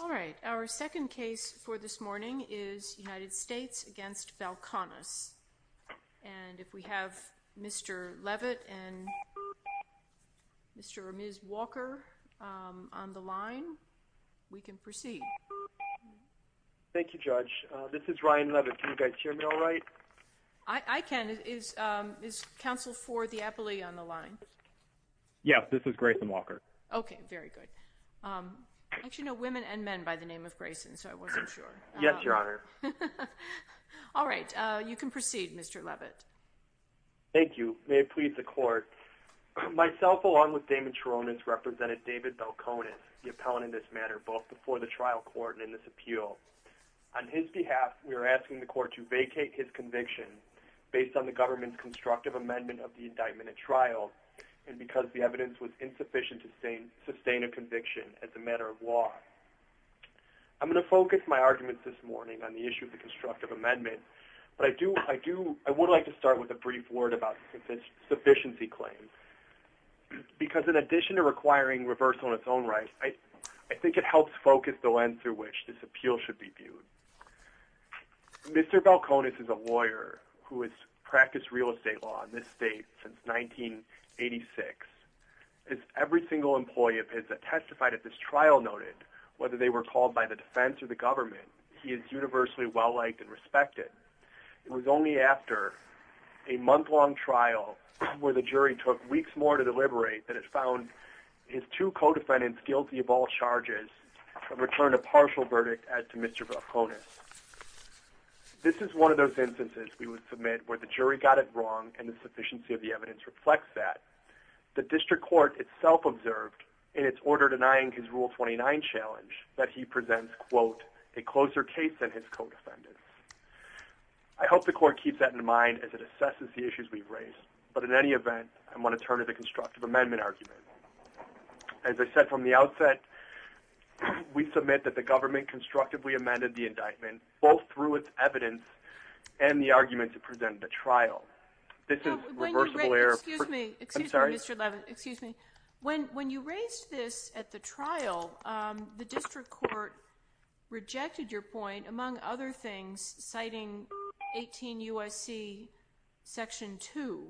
All right, our second case for this morning is United States v. Belconis. And if we have Mr. Leavitt and Mr. or Ms. Walker on the line, we can proceed. Thank you, Judge. This is Ryan Leavitt. Can you guys hear me all right? I can. Is counsel for the appellee on the line? Yes, this is Grayson Walker. Okay, very good. I actually know women and men by the name of Grayson, so I wasn't sure. Yes, Your Honor. All right, you can proceed, Mr. Leavitt. Thank you. May it please the Court. Myself, along with Damon Charonis, represented David Belconis, the appellant in this matter, both before the trial court and in this appeal. On his behalf, we are asking the Court to vacate his conviction based on the government's constructive amendment of the indictment at trial, and because the evidence was insufficient to sustain a conviction as a matter of law. I'm going to focus my arguments this morning on the issue of the constructive amendment, but I would like to start with a brief word about the sufficiency claim, because in addition to requiring reversal in its own right, I think it helps focus the lens through which this appeal should be viewed. Mr. Belconis is a lawyer who has practiced real estate law in this state since 1986. As every single employee of his that testified at this trial noted, whether they were called by the defense or the government, he is universally well-liked and respected. It was only after a month-long trial where the jury took weeks more to deliberate that it found his two co-defendants guilty of all charges and returned a partial verdict as to Mr. Belconis. This is one of those instances, we would submit, where the jury got it wrong and the sufficiency of the evidence reflects that. The district court itself observed, in its order denying his Rule 29 challenge, that he presents, quote, a closer case than his co-defendants. I hope the Court keeps that in mind as it assesses the issues we've raised, but in any event, I'm going to turn to the constructive amendment argument. As I said from the outset, we submit that the government constructively amended the indictment, both through its evidence and the argument to present at the trial. This is reversible error. Excuse me, Mr. Levin. When you raised this at the trial, the district court rejected your point, among other things, citing 18 U.S.C. Section 2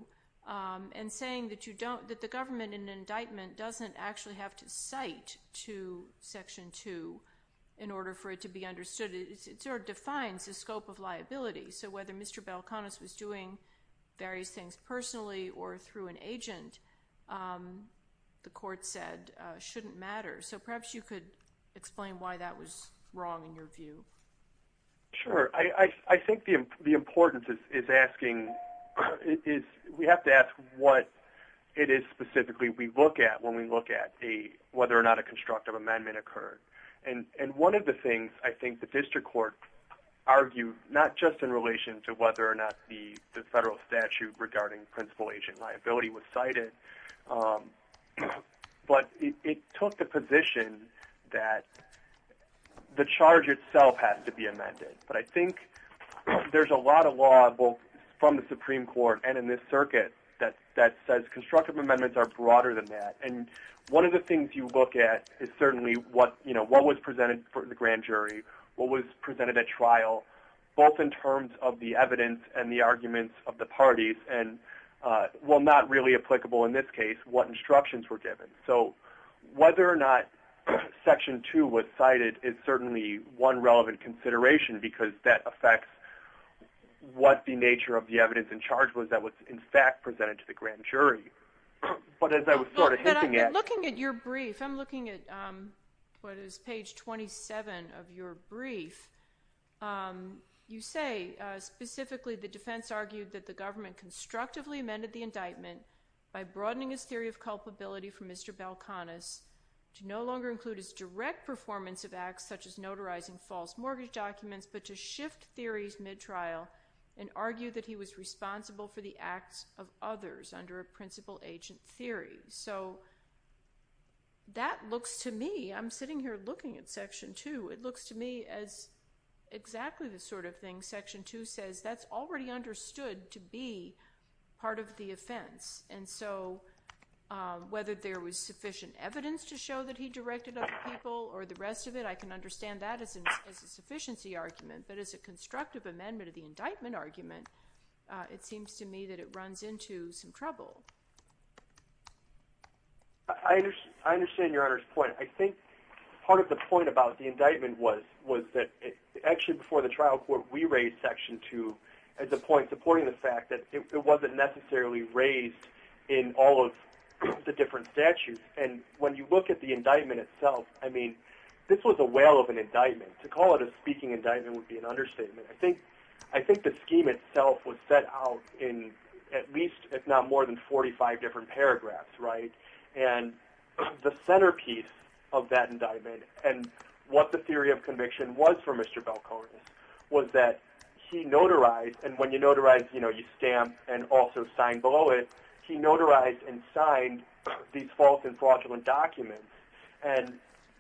and saying that the government in an indictment doesn't actually have to cite to Section 2 in order for it to be understood. It sort of defines the scope of liability. So whether Mr. Belconis was doing various things personally or through an agent, the court said, shouldn't matter. So perhaps you could explain why that was wrong in your view. Sure. I think the importance is asking is we have to ask what it is specifically we look at when we look at whether or not a constructive amendment occurred. And one of the things I think the district court argued, not just in relation to whether or not the federal statute regarding principal agent liability was cited, but it took the position that the charge itself has to be amended. But I think there's a lot of law, both from the Supreme Court and in this circuit, that says constructive amendments are broader than that. And one of the things you look at is certainly what was presented for the grand jury, what was presented at trial, both in terms of the evidence and the arguments of the parties, and, well, not really applicable in this case, what instructions were given. So whether or not Section 2 was cited is certainly one relevant consideration because that affects what the nature of the evidence in charge was that was, in fact, presented to the grand jury. But as I was sort of hinting at. But I'm looking at your brief. I'm looking at what is page 27 of your brief. You say, specifically, the defense argued that the government constructively amended the indictment by broadening his theory of culpability from Mr. Balcones to no longer include his direct performance of acts such as notarizing false mortgage documents, but to shift theories mid-trial and argue that he was responsible for the acts of others under a principal agent theory. So that looks to me, I'm sitting here looking at Section 2, it looks to me as exactly the sort of thing Section 2 says. That's already understood to be part of the offense. And so whether there was sufficient evidence to show that he directed other people or the rest of it, I can understand that as a sufficiency argument. But as a constructive amendment of the indictment argument, it seems to me that it runs into some trouble. I understand Your Honor's point. I think part of the point about the indictment was that actually before the trial court, we raised Section 2 as a point supporting the fact that it wasn't necessarily raised in all of the different statutes. And when you look at the indictment itself, I mean, this was a whale of an indictment. To call it a speaking indictment would be an understatement. I think the scheme itself was set out in at least if not more than 45 different paragraphs. And the centerpiece of that indictment and what the theory of conviction was for Mr. Belkonis was that he notarized, and when you notarize, you stamp and also sign below it, he notarized and signed these false and fraudulent documents. And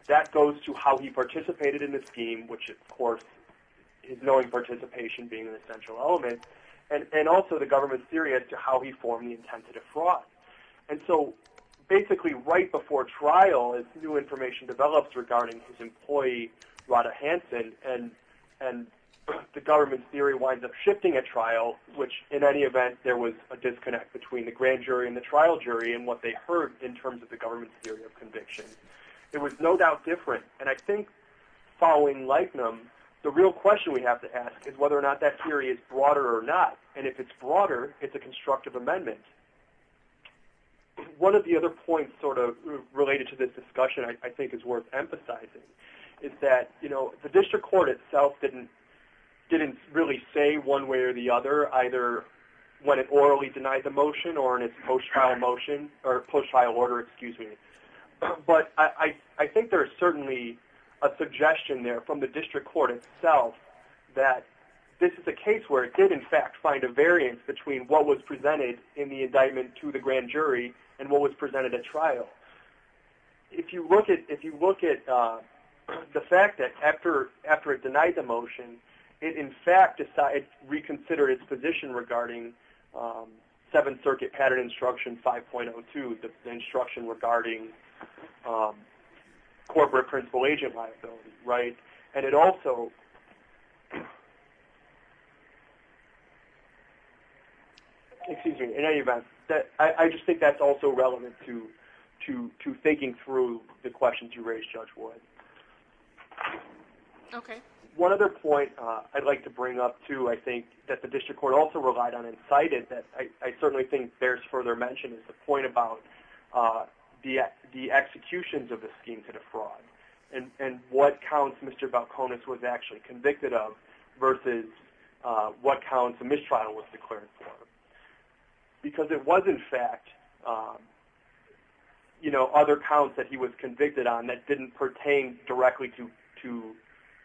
that goes to how he participated in the scheme, which of course is knowing participation being an essential element, and also the government's theory as to how he formed the intent to defraud. And so basically right before trial, as new information develops regarding his employee, Rodda Hanson, and the government's theory winds up shifting at trial, which in any event there was a disconnect between the grand jury and the trial jury and what they heard in terms of the government's theory of conviction. It was no doubt different. And I think following Leibniz, the real question we have to ask is whether or not that theory is broader or not. And if it's broader, it's a constructive amendment. One of the other points sort of related to this discussion I think is worth emphasizing is that the district court itself didn't really say one way or the other, either when it orally denied the motion or in its post-trial order. But I think there is certainly a suggestion there from the district court itself that this is a case where it did in fact find a variance between what was presented in the indictment to the grand jury and what was presented at trial. If you look at the fact that after it denied the motion, it in fact reconsidered its position regarding 7th Circuit Pattern Instruction 5.02, the instruction regarding corporate principal agent liability. And it also, in any event, I just think that's also relevant to thinking through the questions you raised, Judge Wood. One other point I'd like to bring up too, I think, that the district court also relied on and cited, that I certainly think bears further mention, is the point about the executions of the scheme to defraud and what counts Mr. Balcones was actually convicted of versus what counts the mistrial was declared for. Because it was in fact other counts that he was convicted on that didn't pertain directly to,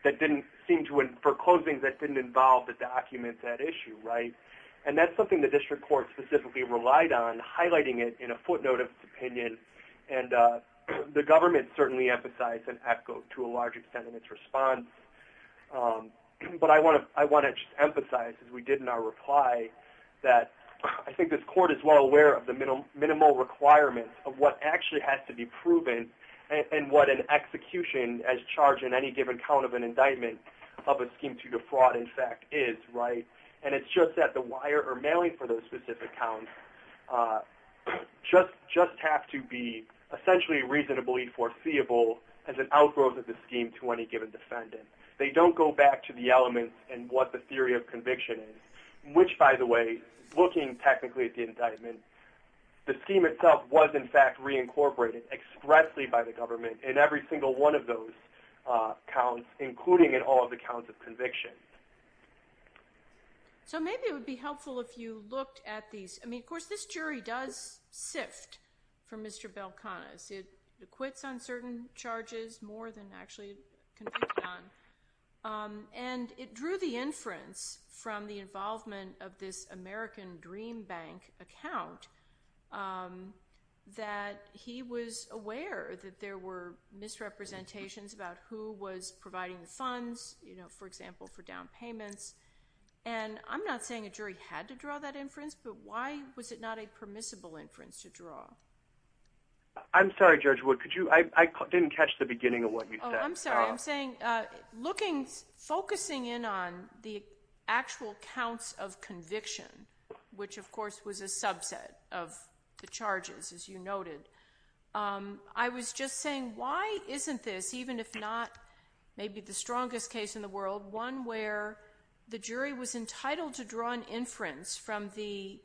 that didn't seem to, for closings, that didn't involve the documents at issue, right? And that's something the district court specifically relied on, highlighting it in a footnote of its opinion. And the government certainly emphasized and echoed to a large extent in its response. But I want to just emphasize, as we did in our reply, that I think this court is well aware of the minimal requirements of what actually has to be proven and what an execution as charged in any given count of an indictment of a scheme to defraud, in fact, is, right? And it's just that the wire or mailing for those specific counts just have to be essentially reasonably foreseeable as an outgrowth of the scheme to any given defendant. They don't go back to the elements and what the theory of conviction is, which, by the way, looking technically at the indictment, the scheme itself was in fact reincorporated expressly by the government in every single one of those counts, including in all of the counts of conviction. So maybe it would be helpful if you looked at these. I mean, of course, this jury does sift for Mr. Belkanas. It acquits on certain charges more than actually convicted on. And it drew the inference from the involvement of this American Dream Bank account that he was aware that there were misrepresentations about who was providing the funds, you know, for example, for down payments. And I'm not saying a jury had to draw that inference, but why was it not a permissible inference to draw? I'm sorry, Judge Wood. I didn't catch the beginning of what you said. Oh, I'm sorry. I'm saying focusing in on the actual counts of conviction, which, of course, was a subset of the charges, as you noted, I was just saying why isn't this, even if not maybe the strongest case in the world, one where the jury was entitled to draw an inference from the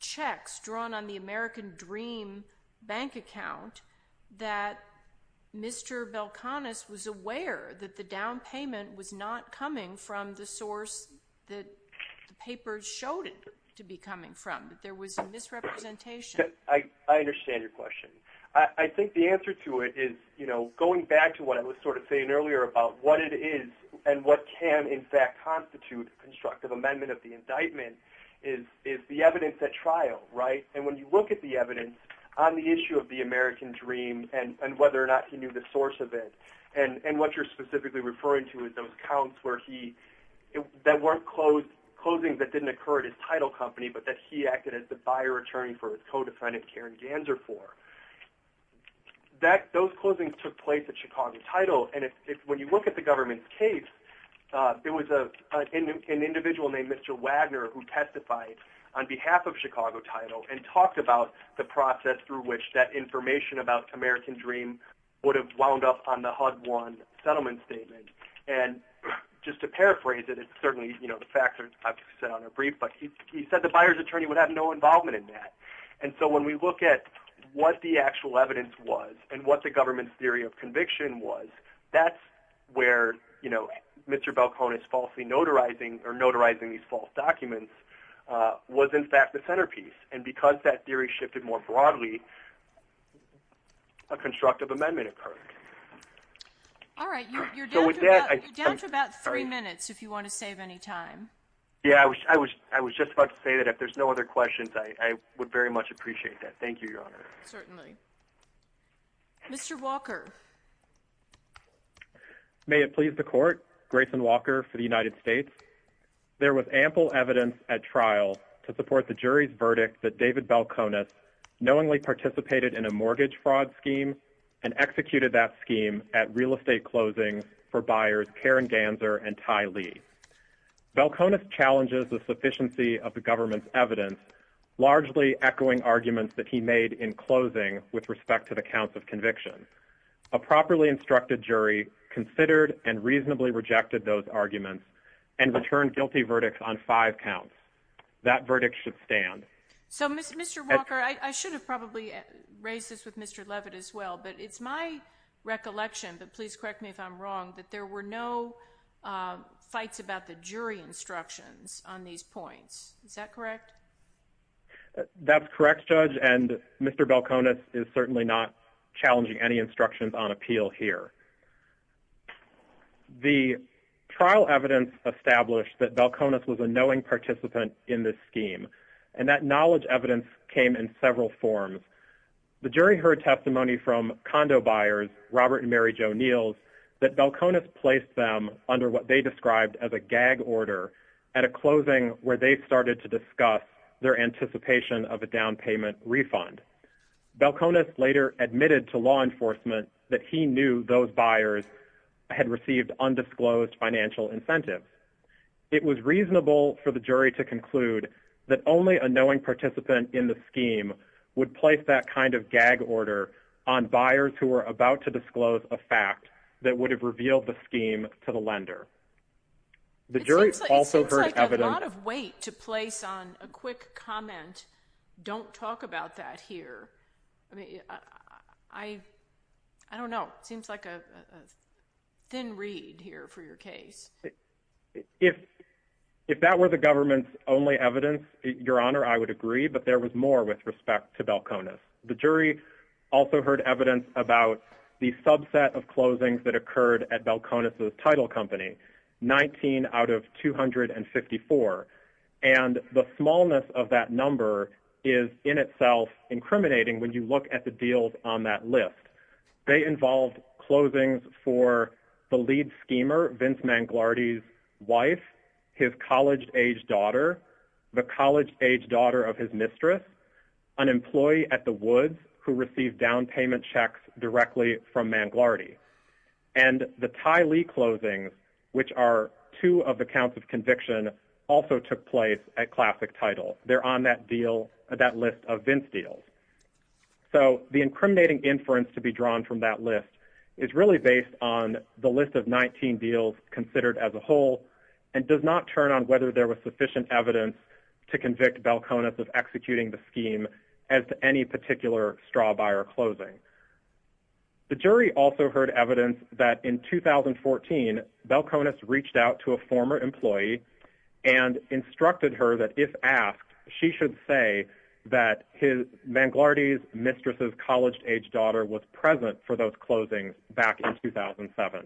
checks drawn on the American Dream Bank account that Mr. Belkanas was aware that the down payment was not coming from the source that the papers showed it to be coming from, that there was a misrepresentation. I understand your question. I think the answer to it is, you know, going back to what I was sort of saying earlier about what it is and what can, in fact, constitute a constructive amendment of the indictment, is the evidence at trial, right? And when you look at the evidence on the issue of the American Dream and whether or not he knew the source of it, and what you're specifically referring to is those counts that weren't closings that didn't occur at his title company, but that he acted as the buyer attorney for his co-defendant Karen Ganser for. Those closings took place at Chicago Title, and when you look at the government's case, there was an individual named Mr. Wagner who testified on behalf of Chicago Title and talked about the process through which that information about American Dream would have wound up on the HUD-1 settlement statement. And just to paraphrase it, it's certainly, you know, the facts are set on a brief, but he said the buyer's attorney would have no involvement in that. And so when we look at what the actual evidence was and what the government's theory of conviction was, that's where, you know, Mr. Balcones falsely notarizing or notarizing these false documents was, in fact, the centerpiece. And because that theory shifted more broadly, a constructive amendment occurred. All right, you're down to about three minutes if you want to save any time. Yeah, I was just about to say that if there's no other questions, I would very much appreciate that. Thank you, Your Honor. Certainly. Mr. Walker. May it please the Court, Grayson Walker for the United States. There was ample evidence at trial to support the jury's verdict that David Balcones knowingly participated in a mortgage fraud scheme and executed that scheme at real estate closings for buyers Karen Ganser and Ty Lee. Balcones challenges the sufficiency of the government's evidence, largely echoing arguments that he made in closing with respect to the counts of conviction. A properly instructed jury considered and reasonably rejected those arguments and returned guilty verdicts on five counts. That verdict should stand. So, Mr. Walker, I should have probably raised this with Mr. Levitt as well, but it's my recollection, but please correct me if I'm wrong, that there were no fights about the jury instructions on these points. Is that correct? That's correct, Judge, and Mr. Balcones is certainly not challenging any instructions on appeal here. The trial evidence established that Balcones was a knowing participant in this scheme, and that knowledge evidence came in several forms. The jury heard testimony from condo buyers Robert and Mary Jo Neils that Balcones placed them under what they described as a gag order at a closing where they started to discuss their anticipation of a down payment refund. Balcones later admitted to law enforcement that he knew those buyers had received undisclosed financial incentives. It was reasonable for the jury to conclude that only a knowing participant in the scheme would place that kind of gag order on buyers who were about to disclose a fact that would have revealed the scheme to the lender. It seems like a lot of weight to place on a quick comment. Don't talk about that here. I don't know. It seems like a thin reed here for your case. If that were the government's only evidence, Your Honor, I would agree, but there was more with respect to Balcones. The jury also heard evidence about the subset of closings that occurred at Balcones' title company, 19 out of 254, and the smallness of that number is in itself incriminating when you look at the deals on that list. They involved closings for the lead schemer, Vince Manglardi's wife, his college-aged daughter, the college-aged daughter of his mistress, an employee at the Woods who received down payment checks directly from Manglardi, and the Ty Lee closings, which are two of the counts of conviction, also took place at Classic Title. They're on that list of Vince deals. So the incriminating inference to be drawn from that list is really based on the list of 19 deals considered as a whole and does not turn on whether there was sufficient evidence to convict Balcones of executing the scheme as to any particular straw buyer closing. The jury also heard evidence that in 2014 Balcones reached out to a former employee and instructed her that if asked, she should say that Manglardi's mistress' college-aged daughter was present for those closings back in 2007.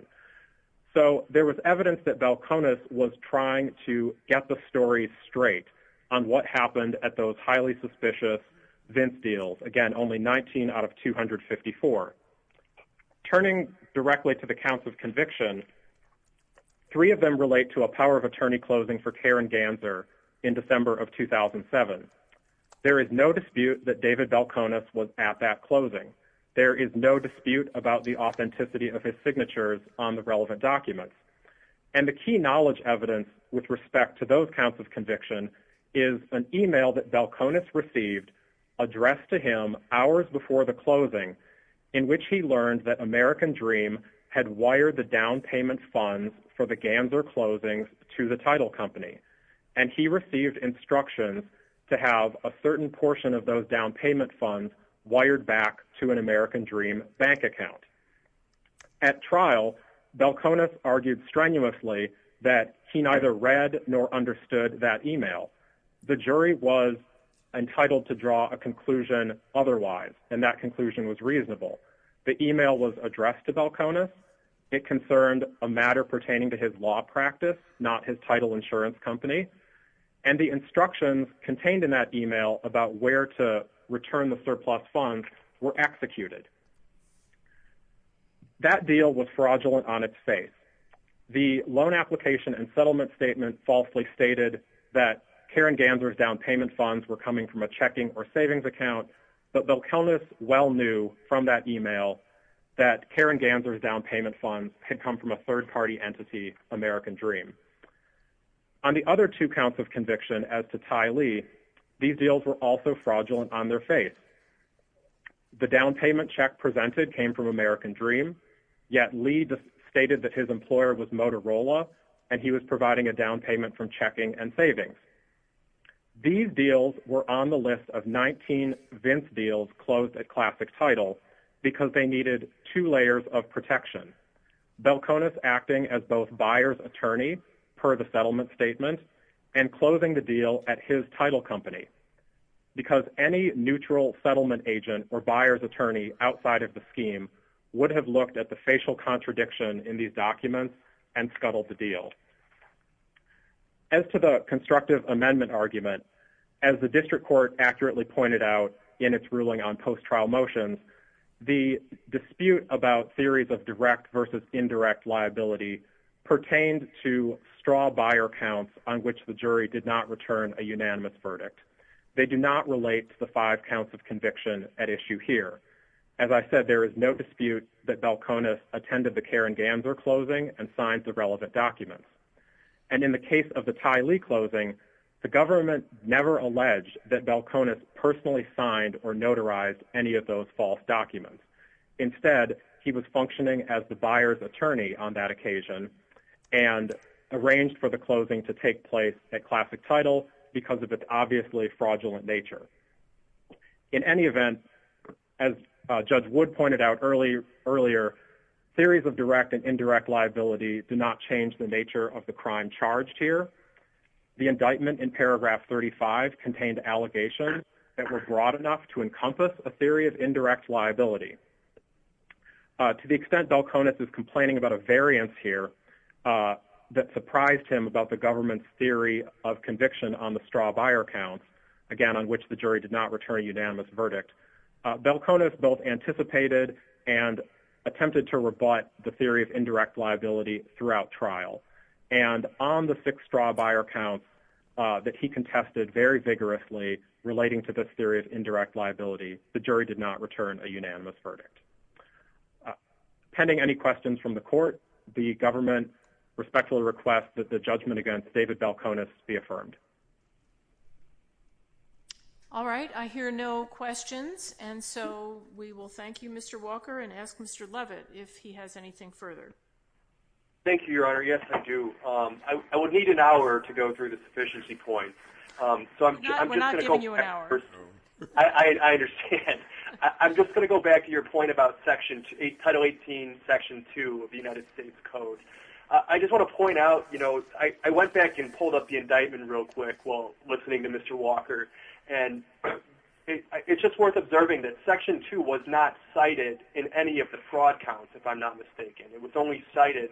So there was evidence that Balcones was trying to get the story straight on what happened at those highly suspicious Vince deals, again, only 19 out of 254. Turning directly to the counts of conviction, three of them relate to a power of attorney closing for Karen Ganser in December of 2007. There is no dispute that David Balcones was at that closing. There is no dispute about the authenticity of his signatures on the relevant documents. And the key knowledge evidence with respect to those counts of conviction is an email that Balcones received addressed to him hours before the closing in which he learned that American Dream had wired the down payment funds for the Ganser closings to the title company. And he received instructions to have a certain portion of those down payment funds wired back to an American Dream bank account. At trial, Balcones argued strenuously that he neither read nor understood that email. The jury was entitled to draw a conclusion otherwise, and that conclusion was reasonable. The email was addressed to Balcones. It concerned a matter pertaining to his law practice, not his title insurance company. And the instructions contained in that email about where to return the surplus funds were executed. That deal was fraudulent on its face. The loan application and settlement statement falsely stated that Karen Ganser's down payment funds were coming from a checking or savings account, but Balcones well knew from that email that Karen Ganser's down payment funds had come from a third-party entity, American Dream. On the other two counts of conviction as to Ty Lee, these deals were also fraudulent on their face. The down payment check presented came from American Dream, yet Lee stated that his employer was Motorola, and he was providing a down payment from checking and savings. These deals were on the list of 19 Vince deals closed at Classic Title because they needed two layers of protection. Balcones acting as both buyer's attorney per the settlement statement and closing the deal at his title company because any neutral settlement agent or buyer's attorney outside of the scheme would have looked at the facial contradiction in these documents and scuttled the deal. As to the constructive amendment argument, as the district court accurately pointed out in its ruling on post-trial motions, the dispute about theories of direct versus indirect liability pertained to straw buyer counts on which the jury did not return a unanimous verdict. They do not relate to the five counts of conviction at issue here. As I said, there is no dispute that Balcones attended the Karen Ganser closing and signed the relevant documents. And in the case of the Ty Lee closing, the government never alleged that Balcones personally signed or notarized any of those false documents. Instead, he was functioning as the buyer's attorney on that occasion and arranged for the closing to take place at Classic Title because of its obviously fraudulent nature. In any event, as Judge Wood pointed out earlier, theories of direct and indirect liability do not change the nature of the crime charged here. The indictment in paragraph 35 contained allegations that were broad enough to encompass a theory of indirect liability. To the extent Balcones is complaining about a variance here that surprised him about the government's theory of conviction on the straw buyer counts, again on which the jury did not return a unanimous verdict, Balcones both anticipated and attempted to rebut the theory of indirect liability throughout trial. And on the six straw buyer counts that he contested very vigorously relating to this theory of indirect liability, the jury did not return a unanimous verdict. Pending any questions from the court, the government respectfully requests that the judgment against David Balcones be affirmed. All right. I hear no questions. And so we will thank you, Mr. Walker, and ask Mr. Levitt if he has anything further. Thank you, Your Honor. Yes, I do. I would need an hour to go through the sufficiency points. We're not giving you an hour. I understand. I'm just going to go back to your point about Title 18, Section 2 of the United States Code. I just want to point out, you know, I went back and pulled up the indictment real quick while listening to Mr. Walker, and it's just worth observing that Section 2 was not cited in any of the fraud counts, if I'm not mistaken. It was only cited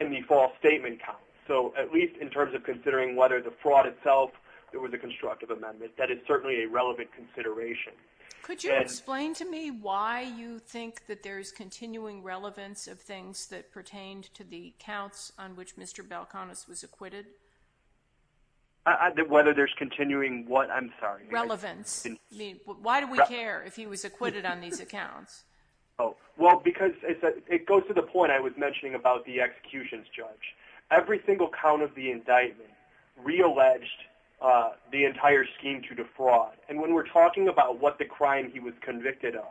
in the false statement count. So at least in terms of considering whether the fraud itself was a constructive amendment, that is certainly a relevant consideration. Could you explain to me why you think that there's continuing relevance of things that pertained to the counts on which Mr. Balcones was acquitted? Whether there's continuing what? I'm sorry. Relevance. I mean, why do we care if he was acquitted on these accounts? Well, because it goes to the point I was mentioning about the executions judge. Every single count of the indictment realleged the entire scheme to defraud, and when we're talking about what the crime he was convicted of,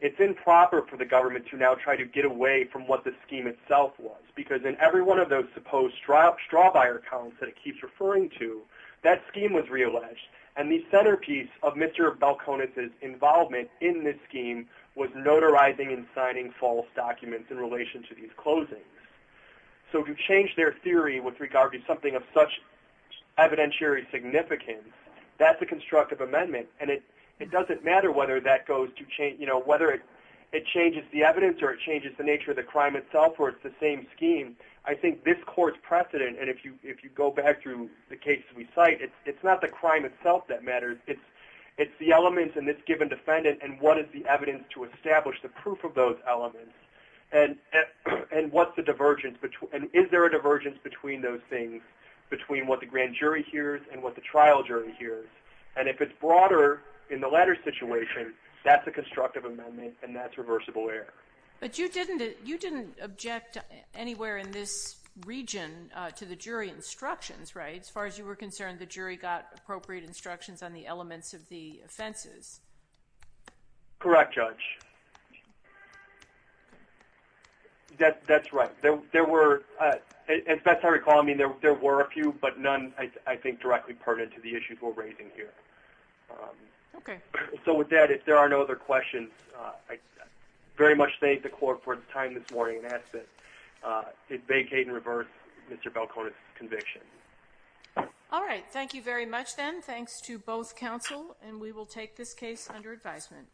it's improper for the government to now try to get away from what the scheme itself was, because in every one of those supposed straw buyer counts that it keeps referring to, that scheme was realleged, and the centerpiece of Mr. Balcones' involvement in this scheme was notarizing and signing false documents in relation to these closings. So to change their theory with regard to something of such evidentiary significance, that's a constructive amendment, and it doesn't matter whether it changes the evidence or it changes the nature of the crime itself or it's the same scheme. I think this court's precedent, it's not the crime itself that matters. It's the elements in this given defendant and what is the evidence to establish the proof of those elements and is there a divergence between those things, between what the grand jury hears and what the trial jury hears, and if it's broader in the latter situation, that's a constructive amendment and that's reversible error. But you didn't object anywhere in this region to the jury instructions, right? As far as you were concerned, the jury got appropriate instructions on the elements of the offenses. Correct, Judge. That's right. There were, as best I recall, I mean, there were a few, but none I think directly pertinent to the issues we're raising here. Okay. So with that, if there are no other questions, I very much thank the court for its time this morning and ask that it vacate in reverse Mr. Balcones' conviction. All right. Thank you very much then. Thanks to both counsel and we will take this case under advisement.